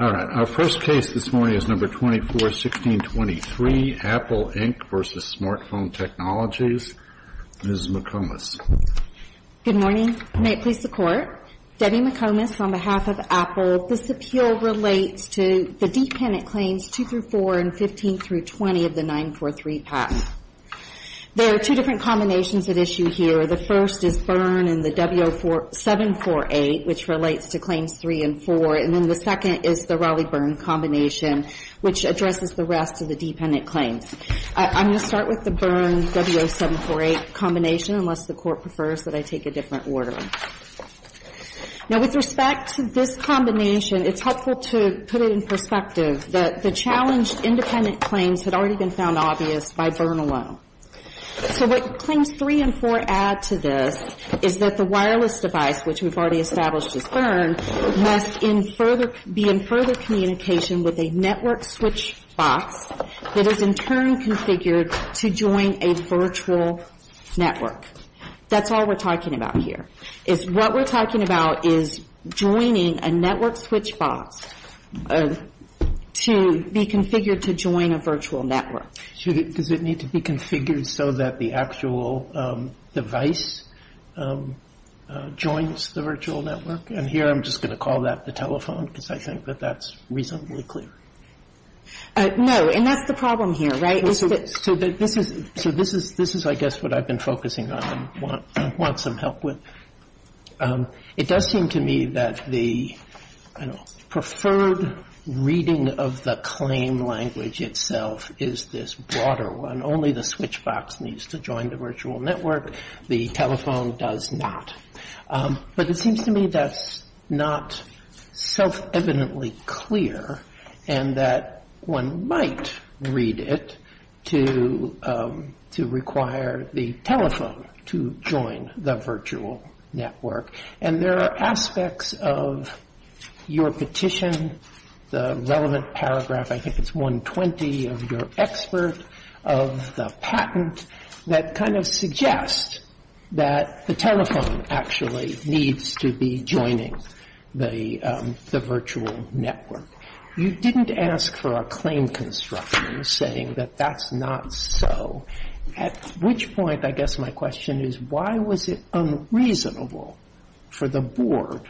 All right. Our first case this morning is No. 24-1623, Apple Inc. v. Smart Phone Technologies, Ms. McComas. Good morning. May it please the Court? Debbie McComas on behalf of Apple. This appeal relates to the dependent claims 2-4 and 15-20 of the 943 patent. There are two different combinations at issue here. The first is Byrne and the W-748, which relates to claims 3 and 4. And then the second is the Raleigh-Byrne combination, which addresses the rest of the dependent claims. I'm going to start with the Byrne-W-748 combination, unless the Court prefers that I take a different order. Now, with respect to this combination, it's helpful to put it in perspective that the challenged independent claims had already been found obvious by Byrne alone. So what claims 3 and 4 add to this is that the wireless device, which we've already established as Byrne, must be in further communication with a network switch box that is in turn configured to join a virtual network. That's all we're talking about here, is what we're talking about is joining a network switch box to be configured to join a virtual network. Does it need to be configured so that the actual device joins the virtual network? And here I'm just going to call that the telephone, because I think that that's reasonably clear. No, and that's the problem here, right? So this is, I guess, what I've been focusing on and want some help with. It does seem to me that the preferred reading of the claim language itself is this broader one. Only the switch box needs to join the virtual network. The telephone does not. But it seems to me that's not self-evidently clear and that one might read it to require the telephone to join the virtual network. And there are aspects of your petition, the relevant paragraph, I think it's 120, of your expert, of the patent, that kind of suggest that the telephone actually needs to be joining the virtual network. You didn't ask for a claim construction saying that that's not so, at which point, I guess my question is, why was it unreasonable for the Board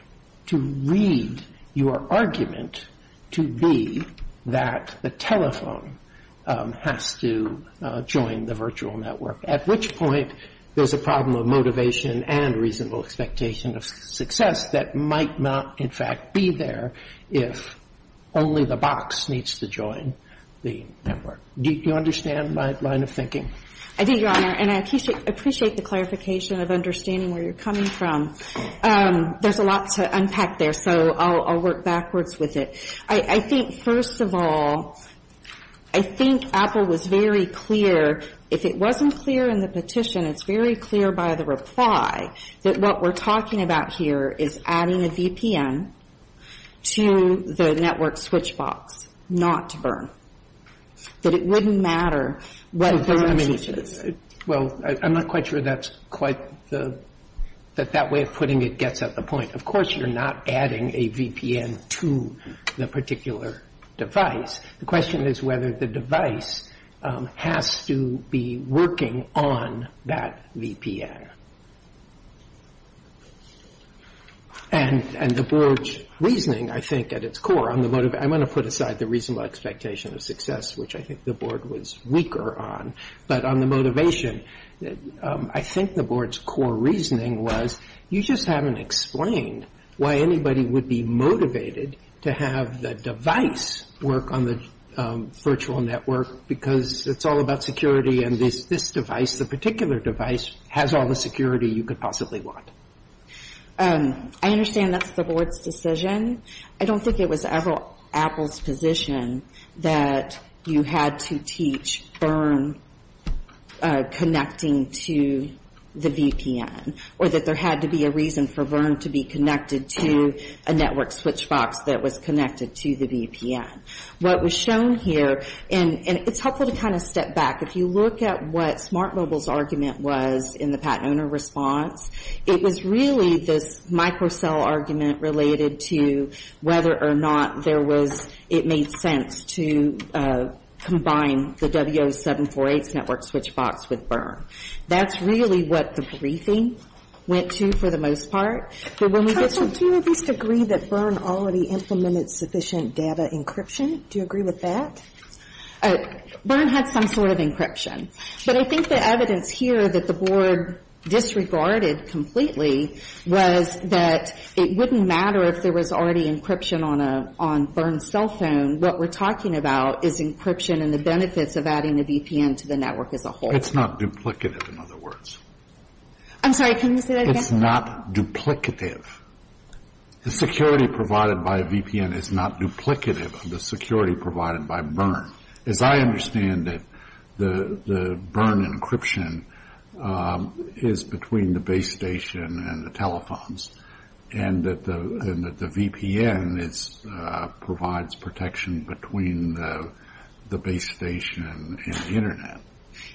to read your argument to be that the telephone has to join the virtual network? At which point, there's a problem of motivation and reasonable expectation of success that might not, in fact, be there if only the box needs to join the network. Do you understand my line of thinking? I do, Your Honor. And I appreciate the clarification of understanding where you're coming from. There's a lot to unpack there, so I'll work backwards with it. I think, first of all, I think Apple was very clear, if it wasn't clear in the petition, it's very clear by the reply that what we're talking about here is adding a VPN to the network switch box not to burn. That it wouldn't matter what the switch is. Well, I'm not quite sure that's quite the – that that way of putting it gets at the point. Of course, you're not adding a VPN to the particular device. The question is whether the device has to be working on that VPN. And the board's reasoning, I think, at its core on the – I'm going to put aside the reasonable expectation of success, which I think the board was weaker on. But on the motivation, I think the board's core reasoning was, you just haven't explained why anybody would be motivated to have the device work on the virtual network because it's all about security and this device, the particular device, has all the security you could possibly want. I understand that's the board's decision. I don't think it was Apple's position that you had to teach burn connecting to the VPN or that there had to be a reason for burn to be connected to a network switch box that was connected to the VPN. What was shown here – and it's helpful to kind of step back. If you look at what Smart Mobile's argument was in the Pat Oner response, it was really this microcell argument related to whether or not there was – it made sense to combine the W0748's network switch box with burn. That's really what the briefing went to for the most part. But when we get to – Counsel, do you at least agree that burn already implemented sufficient data encryption? Do you agree with that? Burn had some sort of encryption. But I think the evidence here that the board disregarded completely was that it wouldn't matter if there was already encryption on burn's cell phone. What we're talking about is encryption and the benefits of adding the VPN to the network as a whole. It's not duplicative, in other words. I'm sorry, can you say that again? It's not duplicative. The security provided by a VPN is not duplicative of the security provided by burn. As I understand it, the burn encryption is between the base station and the telephones, and that the VPN provides protection between the base station and the Internet.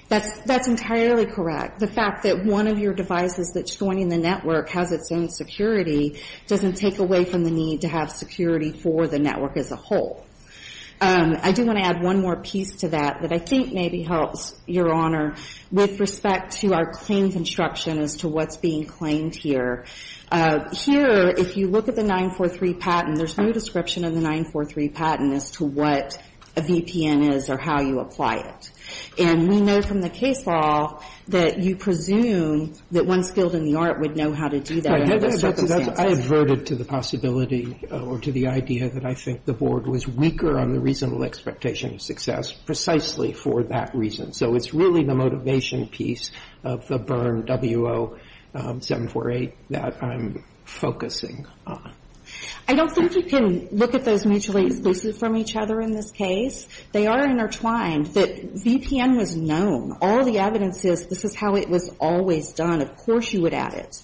That's entirely correct. The fact that one of your devices that's joining the network has its own security doesn't take away from the need to have security for the network as a whole. I do want to add one more piece to that that I think maybe helps, Your Honor, with respect to our claims instruction as to what's being claimed here. Here, if you look at the 943 patent, there's no description of the 943 patent as to what a VPN is or how you apply it. And we know from the case law that you presume that one skilled in the art would know how to do that under those circumstances. I adverted to the possibility or to the idea that I think the Board was weaker on the reasonable expectation of success precisely for that reason. So it's really the motivation piece of the burn W0748 that I'm focusing on. I don't think you can look at those mutually exclusive from each other in this case. They are intertwined. The VPN was known. All the evidence is this is how it was always done. Of course you would add it.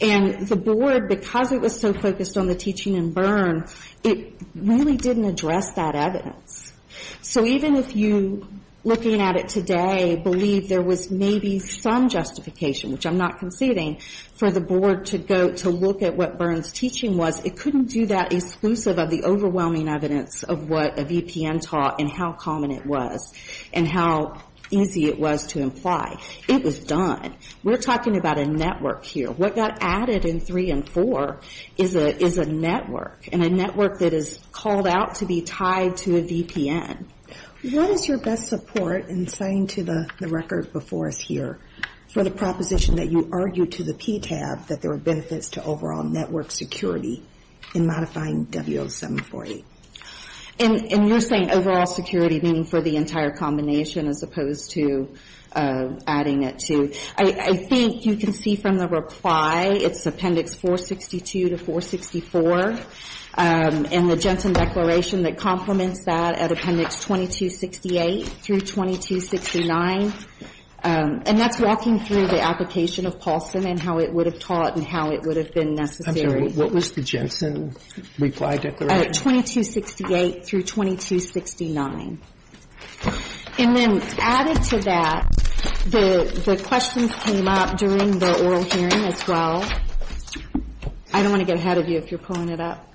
And the Board, because it was so focused on the teaching and burn, it really didn't address that evidence. So even if you, looking at it today, believe there was maybe some justification, which I'm not conceding, for the Board to go to look at what burn's teaching was, it couldn't do that exclusive of the overwhelming evidence of what a VPN taught and how common it was and how easy it was to imply. It was done. We're talking about a network here. What got added in 3 and 4 is a network, and a network that is called out to be tied to a VPN. What is your best support in saying to the record before us here for the proposition that you argued to the PTAB that there were benefits to overall network security in modifying W0748? And you're saying overall security meaning for the entire combination as opposed to adding it to. I think you can see from the reply, it's Appendix 462 to 464, and the Jensen Declaration that complements that at Appendix 2268 through 2269. And that's walking through the application of Paulson and how it would have taught and how it would have been necessary. I'm sorry. What was the Jensen Reply Declaration? 2268 through 2269. And then added to that, the questions came up during the oral hearing as well. I don't want to get ahead of you if you're pulling it up.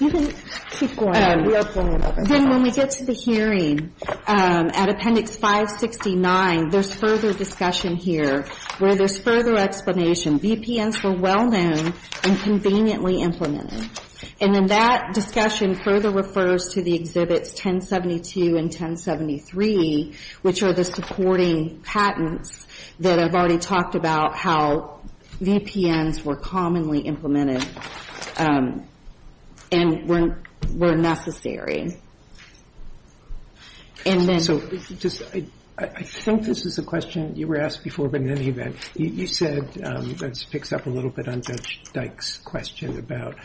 You can keep going. We are pulling it up. Then when we get to the hearing at Appendix 569, there's further discussion here where there's further explanation. VPNs were well-known and conveniently implemented. And then that discussion further refers to the Exhibits 1072 and 1073, which are the supporting patents that I've already talked about how VPNs were commonly implemented and were necessary. I think this is a question you were asked before, but in any event, you said it picks up a little bit on Judge Dyke's question about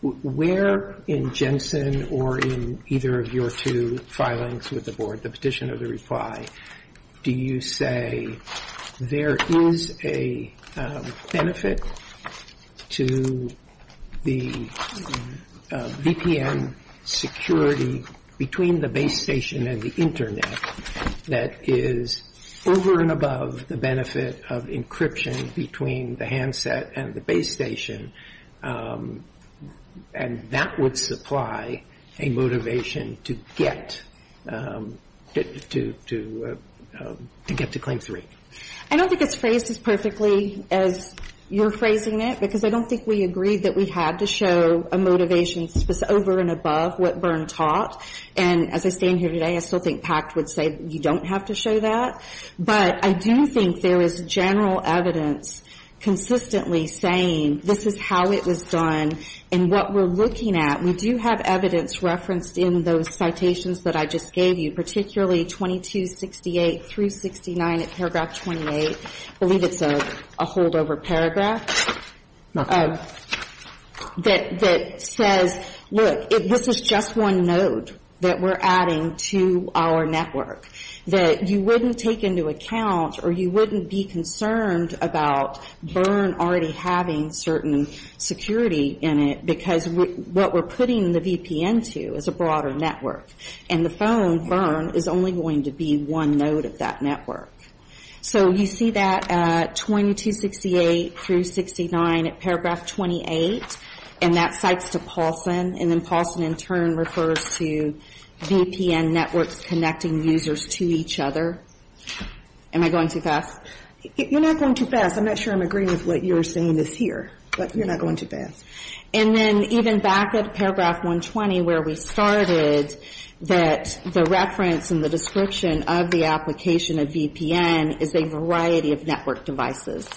where in Jensen or in either of your two filings with the Board, the petition or the reply, do you say there is a benefit to the VPN security between the base station and the Internet that is over and above the benefit of encryption between the handset and the base station, and that would supply a motivation to get to Claim 3? I don't think it's phrased as perfectly as you're phrasing it, because I don't think we agreed that we had to show a motivation over and above what Byrne taught. And as I stand here today, I still think PACT would say you don't have to show that. But I do think there is general evidence consistently saying this is how it was done, and what we're looking at, we do have evidence referenced in those citations that I just gave you, particularly 2268 through 69 at paragraph 28, I believe it's a holdover paragraph, that says, look, this is just one node that we're adding to our network, that you wouldn't take into account or you wouldn't be concerned about Byrne already having certain security in it, because what we're putting the VPN to is a broader network. And the phone, Byrne, is only going to be one node of that network. So you see that 2268 through 69 at paragraph 28, and that cites to Paulson, and then Paulson in turn refers to VPN networks connecting users to each other. Am I going too fast? You're not going too fast. I'm not sure I'm agreeing with what you're saying is here, but you're not going too fast. And then even back at paragraph 120, where we started, that the reference and the description of the application of VPN is a variety of network devices.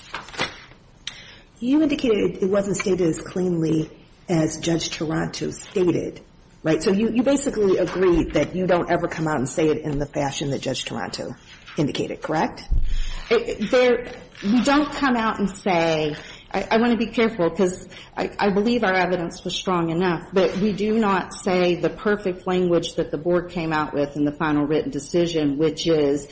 You indicated it wasn't stated as cleanly as Judge Taranto stated, right? So you basically agreed that you don't ever come out and say it in the fashion that Judge Taranto indicated, correct? We don't come out and say, I want to be careful, because I believe our evidence was strong enough, but we do not say the perfect language that the board came out with in the final written decision, which is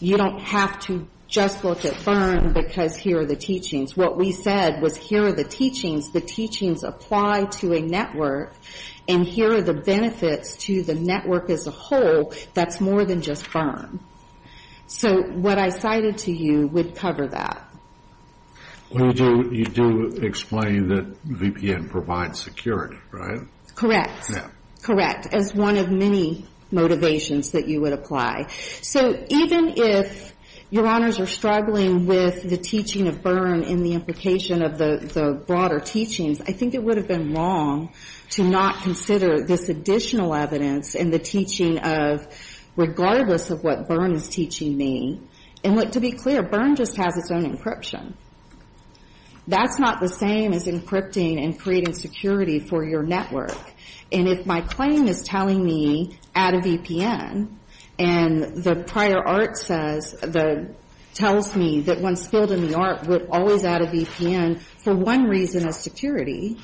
you don't have to just look at Byrne, because here are the teachings. What we said was here are the teachings, the teachings apply to a network, and here are the benefits to the network as a whole that's more than just Byrne. So what I cited to you would cover that. Well, you do explain that VPN provides security, right? Correct. Correct. As one of many motivations that you would apply. So even if Your Honors are struggling with the teaching of Byrne and the implication of the broader teachings, I think it would have been wrong to not consider this additional evidence in the teaching of, regardless of what Byrne is teaching me. And to be clear, Byrne just has its own encryption. That's not the same as encrypting and creating security for your network. And if my claim is telling me, add a VPN, and the prior art says, tells me that one skilled in the art would always add a VPN for one reason as security,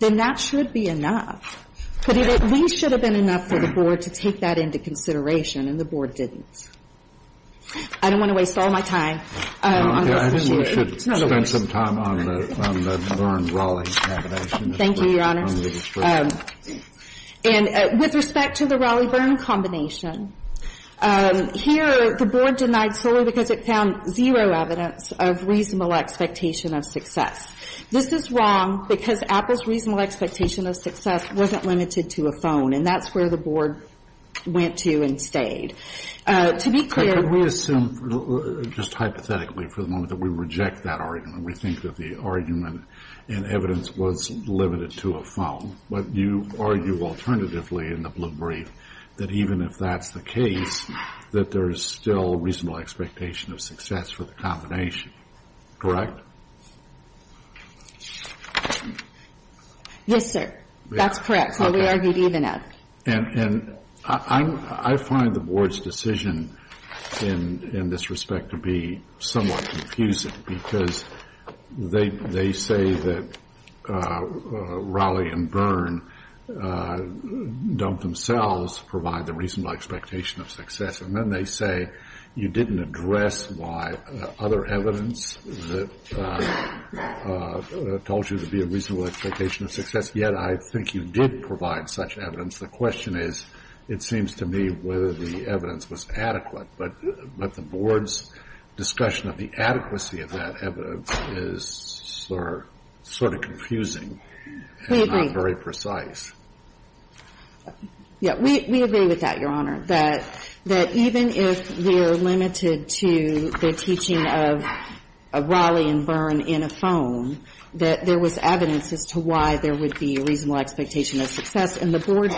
then that should be enough. But it at least should have been enough for the Board to take that into consideration, and the Board didn't. I don't want to waste all my time. I think we should spend some time on the Byrne-Rawley combination. Thank you, Your Honors. And with respect to the Rawley-Byrne combination, here the Board denied solely because it found zero evidence of reasonable expectation of success. This is wrong because Apple's reasonable expectation of success wasn't limited to a phone, and that's where the Board went to and stayed. To be clear... Could we assume just hypothetically for the moment that we reject that argument, we think that the argument in evidence was limited to a phone, but you argue alternatively in the blue brief that even if that's the case, that there is still reasonable expectation of success for the combination, correct? Yes, sir. That's correct. That's what we argued even of. I find the Board's decision in this respect to be somewhat confusing because they say that Rawley and Byrne don't themselves provide the reasonable expectation of success, and then they say you didn't address why other evidence told you to be a reasonable expectation of success, yet I think you did provide such evidence. The question is, it seems to me, whether the evidence was adequate, but the Board's discussion of the adequacy of that evidence is sort of confusing... We agree. ...and not very precise. Yeah. We agree with that, Your Honor, that even if we're limited to the teaching of Rawley and Byrne in a phone, that there was evidence as to why there would be a reasonable expectation of success, and the Board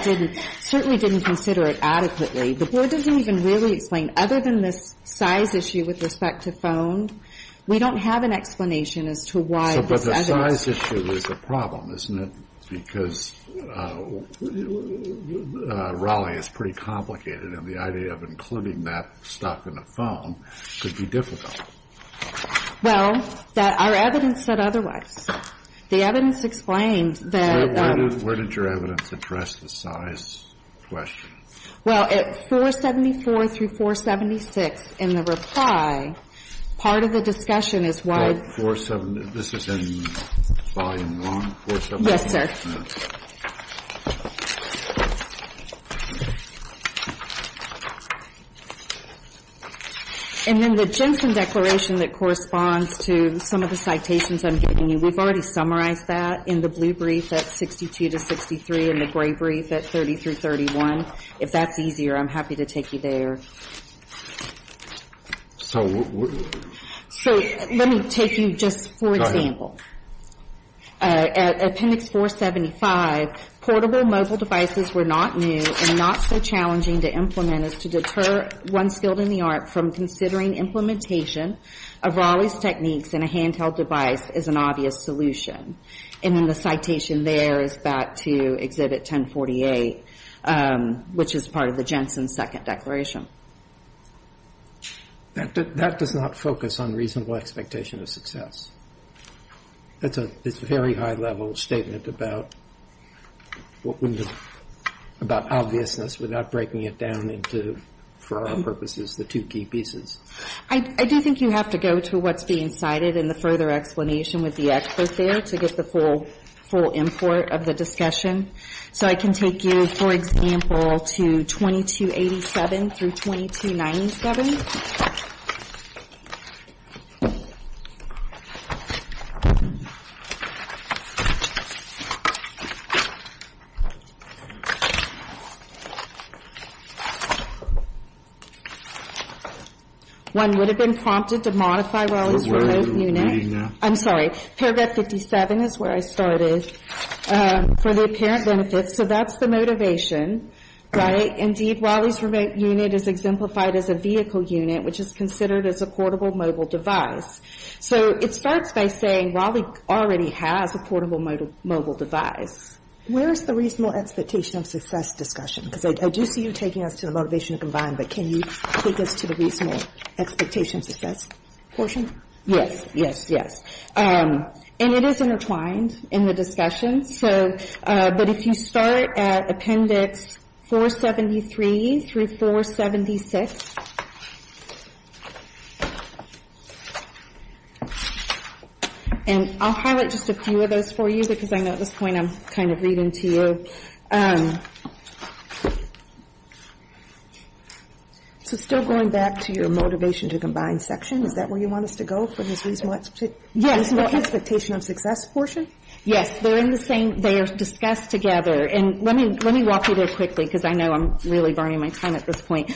certainly didn't consider it adequately. The Board doesn't even really explain, other than this size issue with respect to phone, we don't have an explanation as to why this evidence... But the size issue is a problem, isn't it, because Rawley is pretty complicated, and the idea of including that stuff in a phone could be difficult. Well, our evidence said otherwise. The evidence explained that... Where did your evidence address the size question? Well, at 474 through 476 in the reply, part of the discussion is why... This is in Volume I, 471? Yes, sir. And then the Jensen Declaration that corresponds to some of the citations I'm giving you, we've already summarized that in the blue brief at 62 to 63 and the gray brief at 30 through 31. If that's easier, I'm happy to take you there. So... So let me take you just for example. At Appendix 475, portable mobile devices were not new and not so challenging to implement as to deter one skilled in the art from considering implementation of Rawley's techniques in a handheld device as an obvious solution. And then the citation there is back to Exhibit 1048, which is part of the Jensen Second Declaration. That does not focus on reasonable expectation of success. It's a very high-level statement about obviousness without breaking it down into, for our purposes, the two key pieces. I do think you have to go to what's being cited in the further explanation with the excerpt there to get the full import of the discussion. So I can take you, for example, to 2287 through 2297. One would have been prompted to modify Rawley's remote unit. I'm sorry. Paragraph 57 is where I started. For the apparent benefits. So that's the motivation, right? Indeed, Rawley's remote unit is exemplified as a vehicle unit, which is considered as a portable mobile device. So it starts by saying Rawley already has a portable mobile device. Where is the reasonable expectation of success discussion? Because I do see you taking us to the motivation to combine, but can you take us to the reasonable expectation of success portion? Yes, yes, yes. And it is intertwined in the discussion. But if you start at Appendix 473 through 476, and I'll highlight just a few of those for you because I know at this point I'm kind of reading to you. So still going back to your motivation to combine section, is that where you want us to go for this reasonable expectation? Yes. Reasonable expectation of success portion? Yes. They're in the same. They are discussed together. And let me walk you there quickly because I know I'm really burning my time at this point.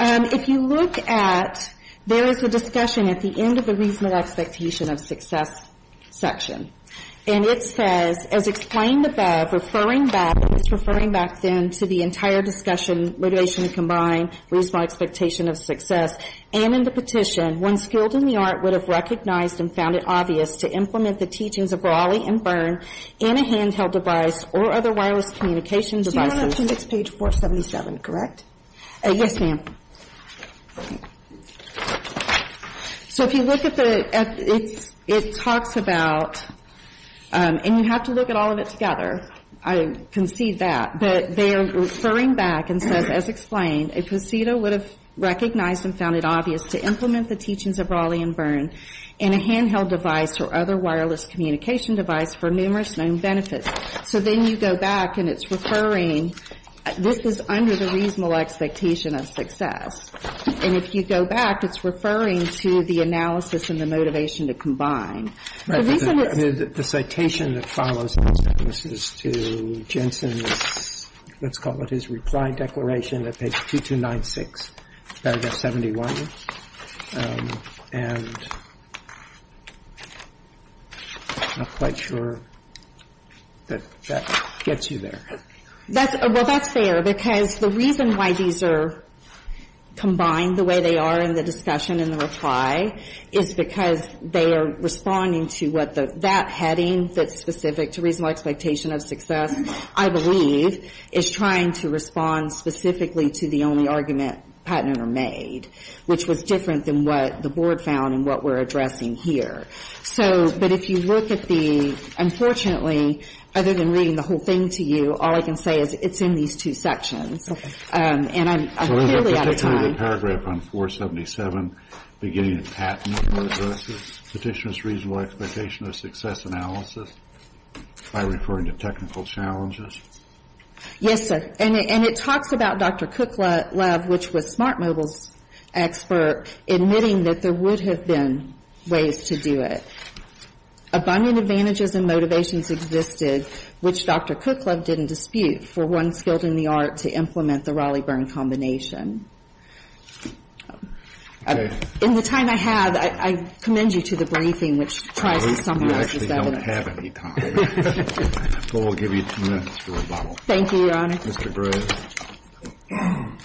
If you look at, there is a discussion at the end of the reasonable expectation of success section. And it says, as explained above, referring back, it's referring back then to the entire discussion, motivation to combine, reasonable expectation of success, and in the petition, one skilled in the art would have recognized and found it obvious to implement the teachings of Raleigh and Byrne in a handheld device or other wireless communication devices. You're on Appendix 477, correct? Yes, ma'am. So if you look at the, it talks about, and you have to look at all of it together. I concede that. But they are referring back and says, as explained, a procedure would have recognized and found it obvious to implement the teachings of Raleigh and Byrne in a handheld device or other wireless communication device for numerous known benefits. So then you go back and it's referring, this is under the reasonable expectation of success. And if you go back, it's referring to the analysis and the motivation to combine. The citation that follows this is to Jensen's, let's call it his reply declaration at page 2296, paragraph 71. And I'm not quite sure that that gets you there. Well, that's fair, because the reason why these are combined the way they are in the is because they are responding to what that heading that's specific to reasonable expectation of success, I believe, is trying to respond specifically to the only argument patented or made, which was different than what the board found and what we're addressing here. So, but if you look at the, unfortunately, other than reading the whole thing to you, all I can say is it's in these two sections. And I'm clearly out of time. I see the paragraph on 477 beginning with patent versus petitioner's reasonable expectation of success analysis by referring to technical challenges. Yes, sir. And it talks about Dr. Kuklev, which was Smart Mobile's expert, admitting that there would have been ways to do it. Abundant advantages and motivations existed, which Dr. Kuklev didn't dispute, for one skilled in the art to implement the Raleigh-Byrne combination. In the time I have, I commend you to the briefing, which tries to summarize this evidence. We actually don't have any time. But we'll give you two minutes for rebuttal. Thank you, Your Honor. Mr. Graves.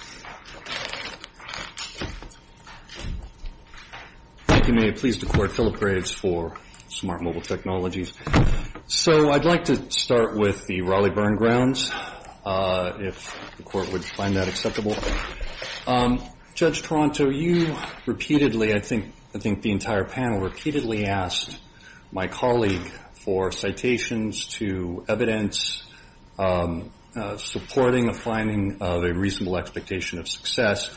Thank you, ma'am. Pleased to court Philip Graves for Smart Mobile Technologies. So I'd like to start with the Raleigh-Byrne grounds, if the court would find that acceptable. Judge Toronto, you repeatedly, I think the entire panel repeatedly, asked my colleague for citations to evidence supporting a finding of a reasonable expectation of success.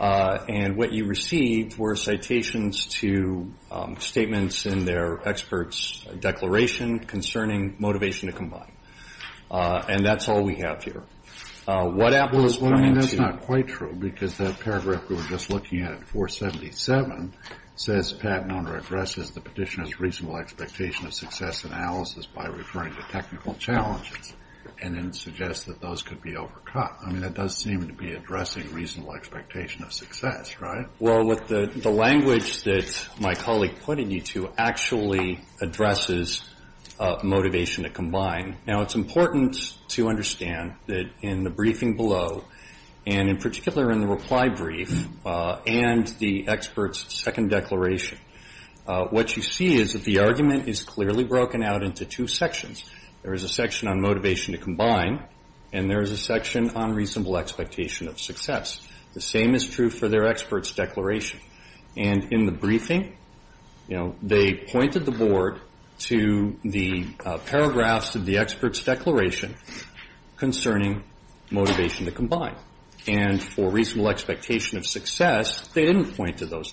And what you received were citations to statements in their expert's declaration concerning motivation to combine. And that's all we have here. Well, I mean, that's not quite true, because that paragraph we were just looking at, 477, says Pat Nona addresses the petitioner's reasonable expectation of success analysis by referring to technical challenges, and then suggests that those could be overcut. I mean, that does seem to be addressing reasonable expectation of success, right? Well, the language that my colleague pointed you to actually addresses motivation to combine. Now, it's important to understand that in the briefing below, and in particular in the reply brief and the expert's second declaration, what you see is that the argument is clearly broken out into two sections. There is a section on motivation to combine, and there is a section on reasonable expectation of success. The same is true for their expert's declaration. And in the briefing, you know, they pointed the board to the paragraphs of the expert's declaration concerning motivation to combine. And for reasonable expectation of success, they didn't point to those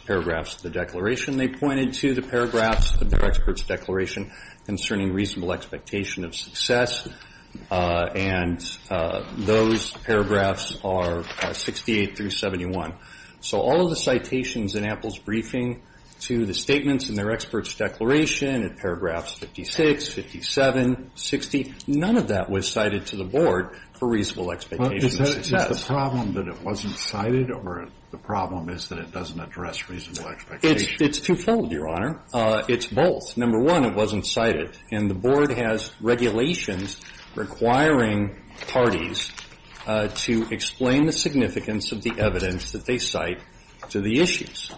paragraphs of the declaration. They pointed to the paragraphs of their expert's declaration concerning reasonable expectation of success. And those paragraphs are 68 through 71. So all of the citations in Apple's briefing to the statements in their expert's declaration, in paragraphs 56, 57, 60, none of that was cited to the board for reasonable expectation of success. It's the problem that it wasn't cited, or the problem is that it doesn't address reasonable expectation? It's twofold, Your Honor. It's both. Number one, it wasn't cited. And the board has regulations requiring parties to explain the significance of the evidence that they cite to the issues.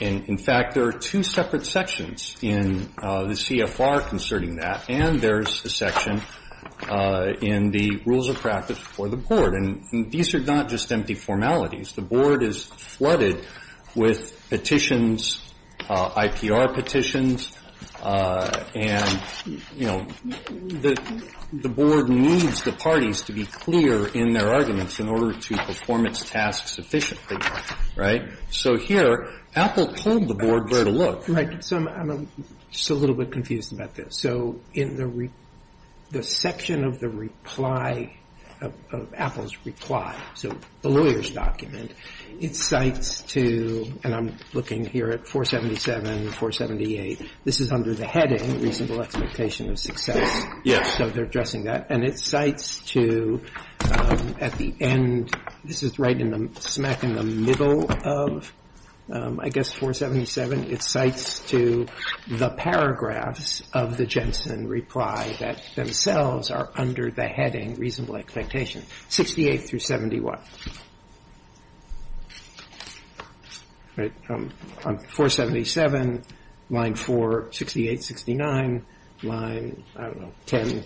In fact, there are two separate sections in the CFR concerning that, and there's a section in the rules of practice for the board. And these are not just empty formalities. The board is flooded with petitions, IPR petitions, and, you know, the board needs the parties to be clear in their arguments in order to perform its tasks efficiently, right? So here, Apple told the board where to look. So I'm just a little bit confused about this. So in the section of the reply, of Apple's reply, so the lawyer's document, it cites to, and I'm looking here at 477 and 478, this is under the heading reasonable expectation of success. So they're addressing that. And it cites to, at the end, this is right smack in the middle of, I guess, 477. It cites to the paragraphs of the Jensen reply that themselves are under the heading reasonable expectation, 68 through 71. 477, line 4, 68, 69, line, I don't know, 10,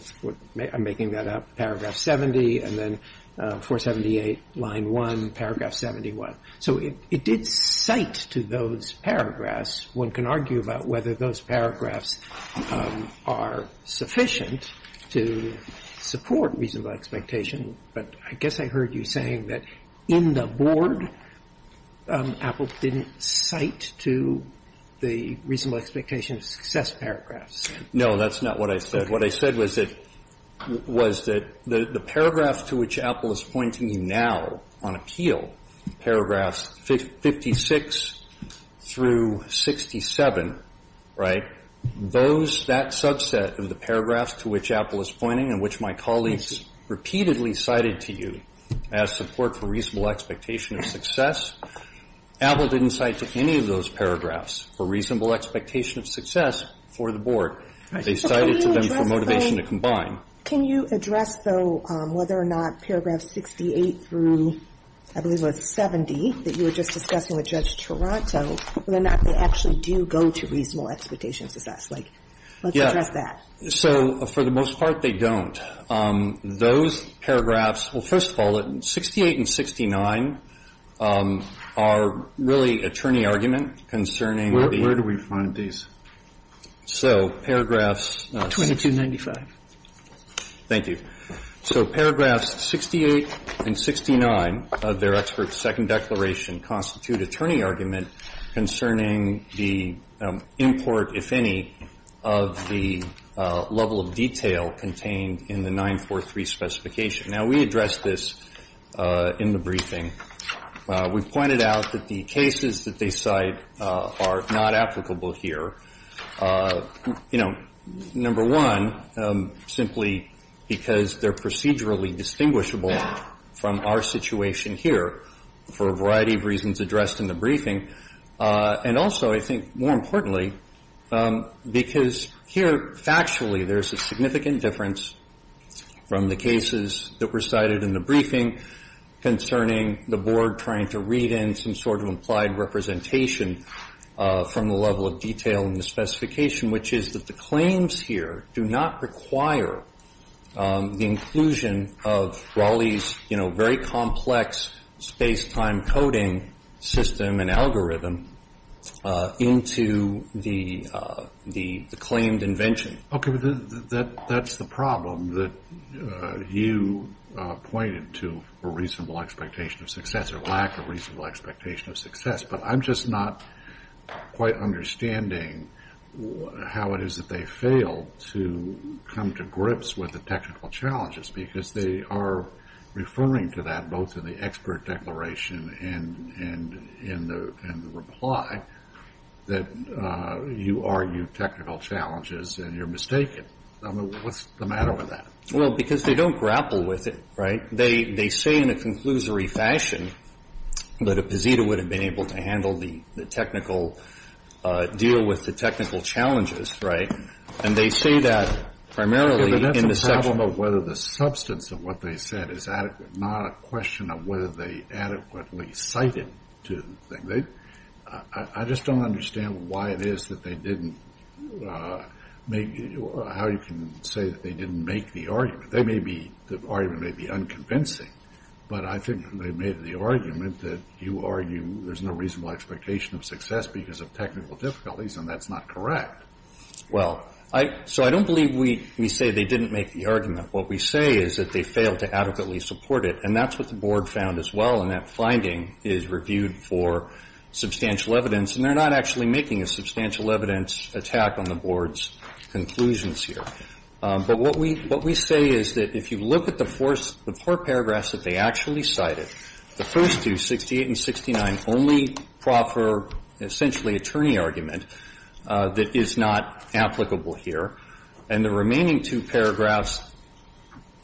I'm making that up, paragraph 70, and then 478, line 1, paragraph 71. So it did cite to those paragraphs. One can argue about whether those paragraphs are sufficient to support reasonable expectation, but I guess I heard you saying that in the board, Apple didn't cite to the reasonable expectation of success paragraphs. No, that's not what I said. What I said was that the paragraphs to which Apple is pointing you now on appeal, paragraphs 56 through 67, right, those, that subset of the paragraphs to which Apple is pointing and which my colleagues repeatedly cited to you as support for reasonable expectation of success, Apple didn't cite to any of those paragraphs for reasonable expectation of success for the board. They cited to them for motivation to combine. Can you address, though, whether or not paragraph 68 through, I believe it was 70, that you were just discussing with Judge Toronto, whether or not they actually do go to reasonable expectation of success? Like, let's address that. So for the most part, they don't. Those paragraphs, well, first of all, 68 and 69 are really attorney argument concerning the ---- Where do we find these? So paragraphs ---- 2295. Thank you. So paragraphs 68 and 69 of their expert second declaration constitute attorney argument concerning the import, if any, of the level of detail contained in the 943 specification. Now, we addressed this in the briefing. We pointed out that the cases that they cite are not applicable here. You know, number one, simply because they're procedurally distinguishable from our situation here for a variety of reasons addressed in the briefing. And also, I think more importantly, because here factually there's a significant difference from the cases that were cited in the briefing concerning the board trying to read in some sort of implied representation from the level of detail in the specification, which is that the claims here do not require the inclusion of Raleigh's, you know, very complex space-time coding system and algorithm into the claimed invention. Okay. But that's the problem, that you pointed to a reasonable expectation of success or lack of reasonable expectation of success. But I'm just not quite understanding how it is that they fail to come to grips with the technical challenges, because they are referring to that both in the expert declaration and in the reply, that you argue technical challenges and you're mistaken. I mean, what's the matter with that? Well, because they don't grapple with it, right? They say in a conclusory fashion that a PZITA would have been able to handle the technical deal with the technical challenges, right? And they say that primarily in the section of whether the substance of what they said is adequate, not a question of whether they adequately cited to the thing. I just don't understand why it is that they didn't make or how you can say that they didn't make the argument. They may be unconvincing, but I think they made the argument that you argue there's no reasonable expectation of success because of technical difficulties, and that's not correct. Well, so I don't believe we say they didn't make the argument. What we say is that they failed to adequately support it, and that's what the board found as well, and that finding is reviewed for substantial evidence. And they're not actually making a substantial evidence attack on the board's conclusions here. But what we say is that if you look at the four paragraphs that they actually cited, the first two, 68 and 69, only proffer essentially attorney argument that is not applicable here, and the remaining two paragraphs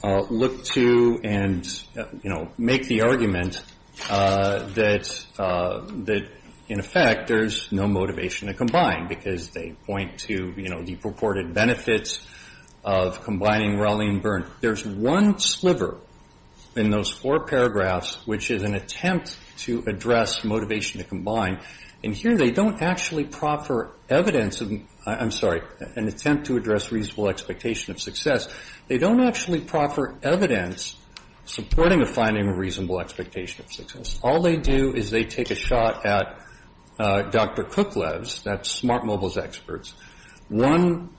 look to and, you know, make the argument that in effect there's no motivation to combine because they point to, you know, the purported benefits of combining Rowley and Byrne. There's one sliver in those four paragraphs which is an attempt to address motivation to combine, and here they don't actually proffer evidence of an attempt to address reasonable expectation of success. They don't actually proffer evidence supporting a finding of reasonable expectation of success. All they do is they take a shot at Dr. Kuklev's, that's Smart Mobile's experts, one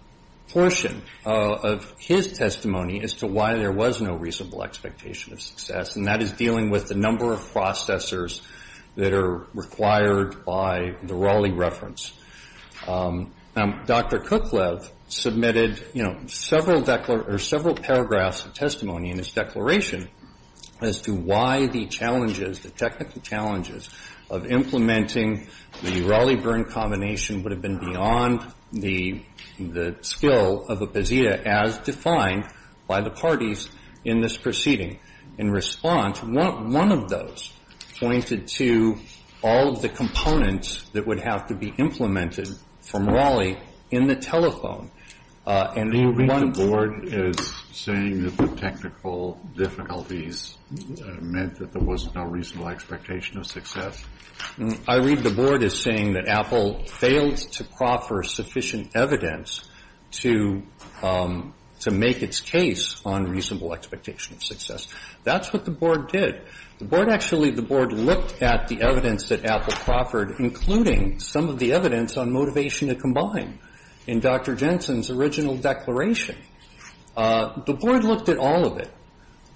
portion of his testimony as to why there was no reasonable expectation of success, and that is dealing with the number of processors that are required by the Rowley reference. Now, Dr. Kuklev submitted, you know, several paragraphs of testimony in his declaration as to why the challenges, the technical challenges of implementing the Rowley-Byrne combination would have been beyond the skill of a Bazzita as defined by the parties in this proceeding. In response, one of those pointed to all of the components that would have to be implemented from Rowley in the telephone. And one of the board is saying that the technical difficulties meant that there wasn't a reasonable expectation of success. I read the board as saying that Apple failed to proffer sufficient evidence to make its case on reasonable expectation of success. That's what the board did. The board actually, the board looked at the evidence that Apple proffered, including some of the evidence on motivation to combine. In Dr. Jensen's original declaration, the board looked at all of it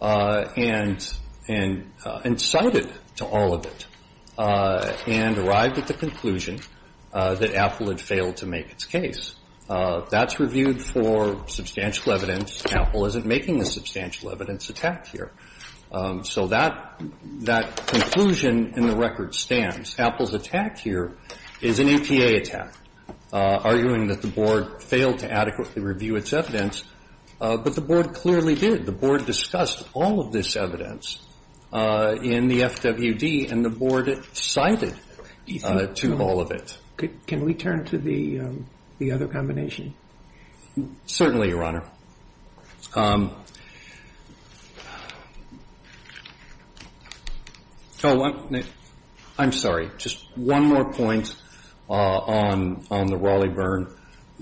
and cited to all of it and arrived at the conclusion that Apple had failed to make its case. That's reviewed for substantial evidence. Apple isn't making a substantial evidence attack here. So that conclusion in the record stands. Apple's attack here is an EPA attack. Arguing that the board failed to adequately review its evidence. But the board clearly did. The board discussed all of this evidence in the FWD and the board cited to all of it. Can we turn to the other combination? Certainly, Your Honor. I'm sorry. Just one more point on the Raleigh-Byrne.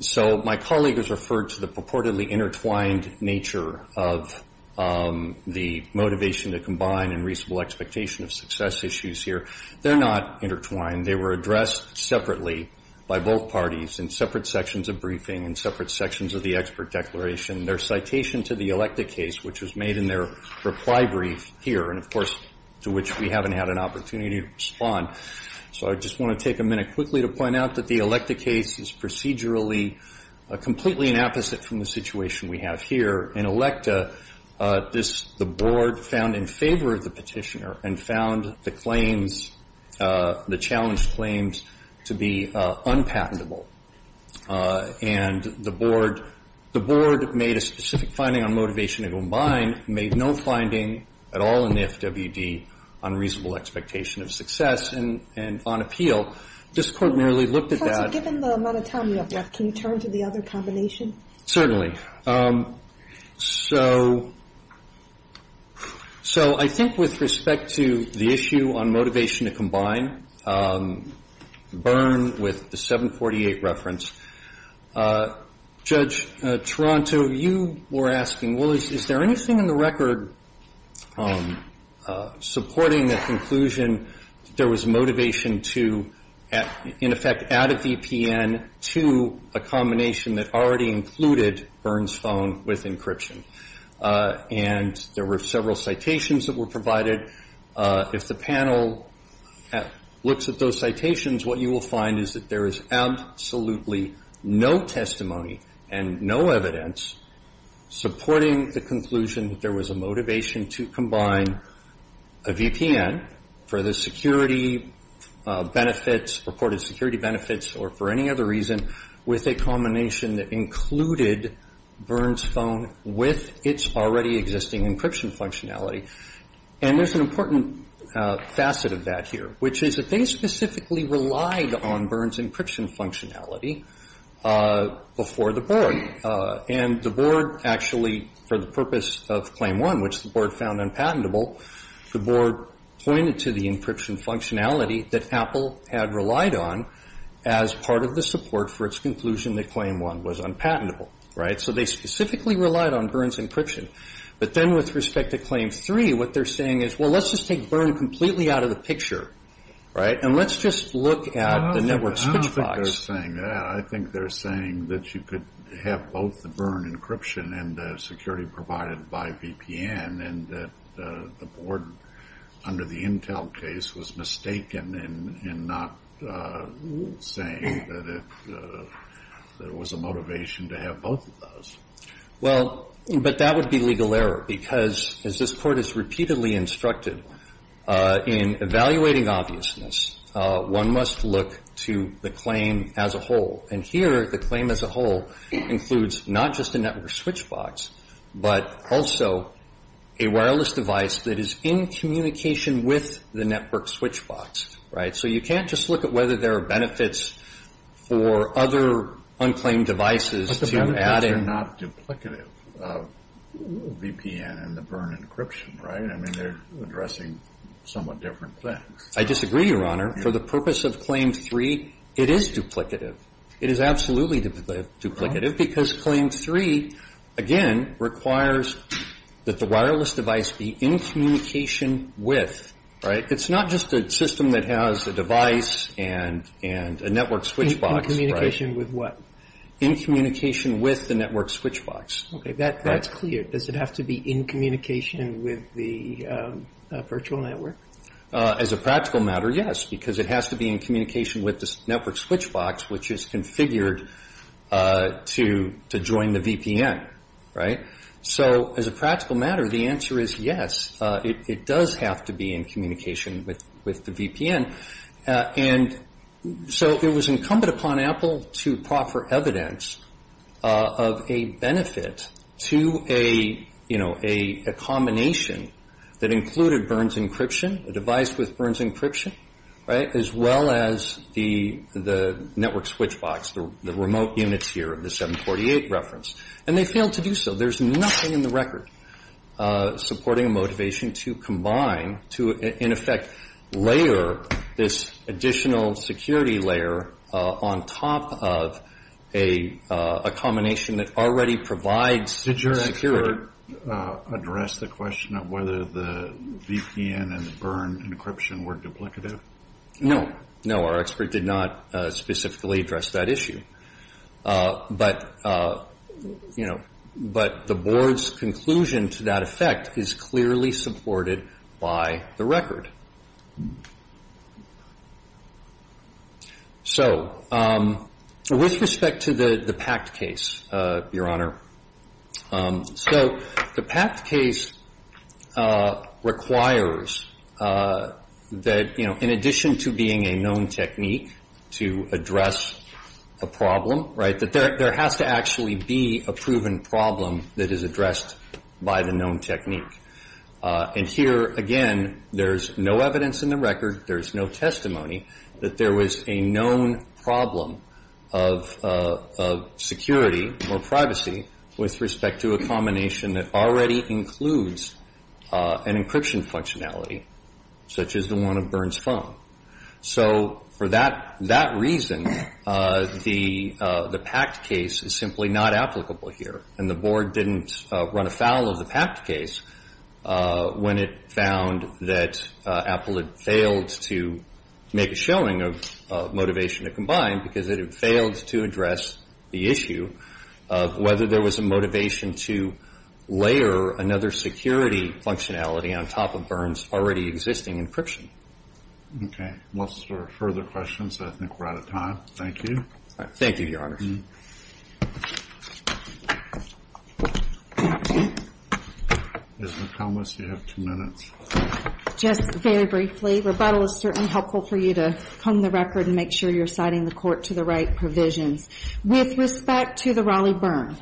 So my colleague has referred to the purportedly intertwined nature of the motivation to combine and reasonable expectation of success issues here. They're not intertwined. They were addressed separately by both parties in separate sections of briefing and separate sections of the expert declaration. Their citation to the ELECTA case, which was made in their reply brief here, and, of course, to which we haven't had an opportunity to respond. So I just want to take a minute quickly to point out that the ELECTA case is procedurally completely an opposite from the situation we have here. In ELECTA, the board found in favor of the petitioner and found the claims, the challenged claims, to be unpatentable. And the board made a specific finding on motivation to combine, made no finding at all in the FWD on reasonable expectation of success and on appeal. This Court merely looked at that. Given the amount of time we have left, can you turn to the other combination? Certainly. So I think with respect to the issue on motivation to combine, Byrne, with the 748 reference, Judge Toronto, you were asking, well, is there anything in the record supporting the conclusion that there was motivation to, in effect, add a VPN to a combination that already included Byrne's phone with encryption? And there were several citations that were provided. If the panel looks at those citations, what you will find is that there is absolutely no testimony and no evidence supporting the conclusion that there was a motivation to combine a VPN for the security benefits, reported security benefits, or for any other reason, with a combination that included Byrne's phone with its already existing encryption functionality. And there's an important facet of that here, which is that they specifically relied on Byrne's encryption functionality before the Board. And the Board actually, for the purpose of Claim 1, which the Board found unpatentable, the Board pointed to the encryption functionality that Apple had relied on as part of the support for its conclusion that Claim 1 was unpatentable. Right? So they specifically relied on Byrne's encryption. But then with respect to Claim 3, what they're saying is, well, let's just take Byrne completely out of the picture. Right? And let's just look at the network switch box. I don't think they're saying that. I think they're saying that you could have both the Byrne encryption and the security provided by VPN, and that the Board, under the Intel case, was mistaken in not saying that it was a motivation to have both of those. Well, but that would be legal error. Because, as this Court has repeatedly instructed, in evaluating obviousness, one must look to the claim as a whole. And here, the claim as a whole includes not just a network switch box, but also a wireless device that is in communication with the network switch box. Right? So you can't just look at whether there are benefits for other unclaimed devices to add in. But the benefits are not duplicative of VPN and the Byrne encryption. Right? I mean, they're addressing somewhat different things. I disagree, Your Honor. For the purpose of Claim 3, it is duplicative. It is absolutely duplicative. Because Claim 3, again, requires that the wireless device be in communication with. Right? It's not just a system that has a device and a network switch box. In communication with what? In communication with the network switch box. That's clear. Does it have to be in communication with the virtual network? As a practical matter, yes. Because it has to be in communication with the network switch box, which is configured to join the VPN. Right? So, as a practical matter, the answer is yes. It does have to be in communication with the VPN. And so, it was incumbent upon Apple to proffer evidence of a benefit to a, you know, a combination that included Byrne's encryption, a device with Byrne's encryption. Right? As well as the network switch box, the remote units here of the 748 reference. And they failed to do so. There's nothing in the record supporting a motivation to combine, to, in effect, layer this additional security layer on top of a combination that already provides security. Did your expert address the question of whether the VPN and Byrne encryption were duplicative? No. No, our expert did not specifically address that issue. But, you know, the board's conclusion to that effect is clearly supported by the record. So, with respect to the PACT case, Your Honor, so the PACT case requires that, you know, in addition to being a known technique to address a problem, right, that there has to actually be a proven problem that is addressed by the known technique. And here, again, there's no evidence in the record, there's no testimony, that there was a known problem of security or privacy with respect to a combination that already includes an encryption functionality, such as the one of Byrne's phone. So, for that reason, the PACT case is simply not applicable here. And the board didn't run afoul of the PACT case when it found that Apple had failed to make a showing of motivation to combine because it had failed to address the issue of whether there was a motivation to layer another security functionality on top of Byrne's already existing encryption. Okay. Unless there are further questions, I think we're out of time. Thank you. Thank you, Your Honor. Ms. McComas, you have two minutes. Just very briefly, rebuttal is certainly helpful for you to hone the record and make sure you're citing the court to the right provisions. With respect to the Raleigh-Byrne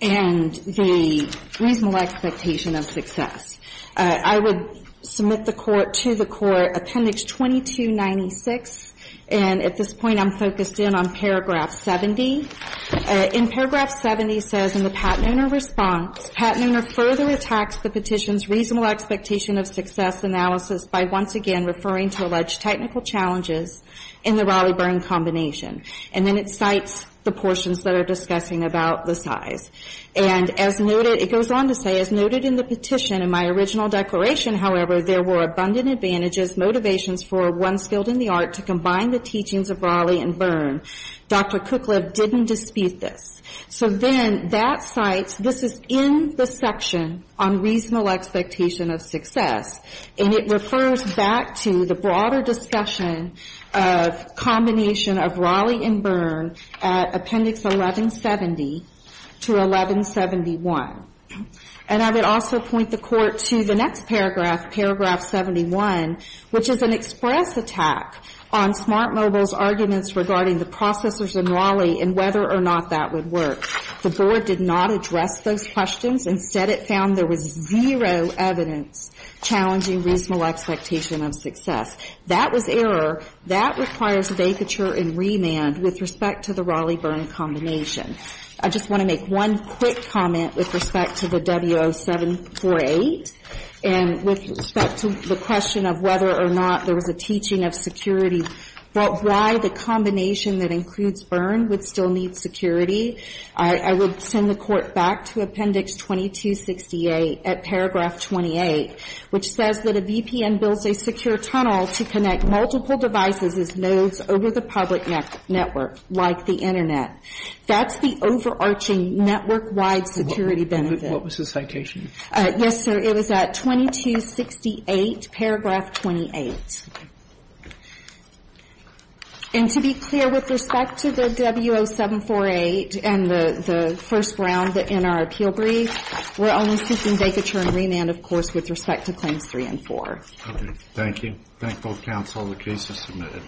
and the reasonable expectation of success, I would submit to the Court Appendix 2296, and at this point I'm focused in on Paragraph 70. In Paragraph 70 says, in the Patnoner response, Patnoner further attacks the petition's reasonable expectation of success analysis by once again referring to alleged technical challenges in the Raleigh-Byrne combination. And then it cites the portions that are discussing about the size. And as noted, it goes on to say, as noted in the petition, in my original declaration, however, there were abundant advantages, motivations for a once-filled-in-the-art to combine the teachings of Raleigh and Byrne. Dr. Kuklev didn't dispute this. So then that cites, this is in the section on reasonable expectation of success, and it refers back to the broader discussion of combination of Raleigh and Byrne at Appendix 1170 to 1171. And I would also point the Court to the next paragraph, Paragraph 71, which is an express attack on Smart Mobile's arguments regarding the processors in Raleigh and whether or not that would work. The Board did not address those expectations of success. That was error. That requires vacature and remand with respect to the Raleigh-Byrne combination. I just want to make one quick comment with respect to the W0748 and with respect to the question of whether or not there was a teaching of security, but why the combination that includes Byrne would still need security. I would send the Court back to Appendix 2268 at Paragraph 28, which is an express attack on Smart Mobile, which says that a VPN builds a secure tunnel to connect multiple devices as nodes over the public network, like the Internet. That's the overarching network-wide security benefit. What was the citation? Yes, sir. It was at 2268, Paragraph 28. And to be clear, with respect to the W0748 and the first round in our appeal brief, we're only seeking vacature and remand, of course, with respect to Claims 3 and 4. Okay. Thank you. I thank both counsel. The case is submitted.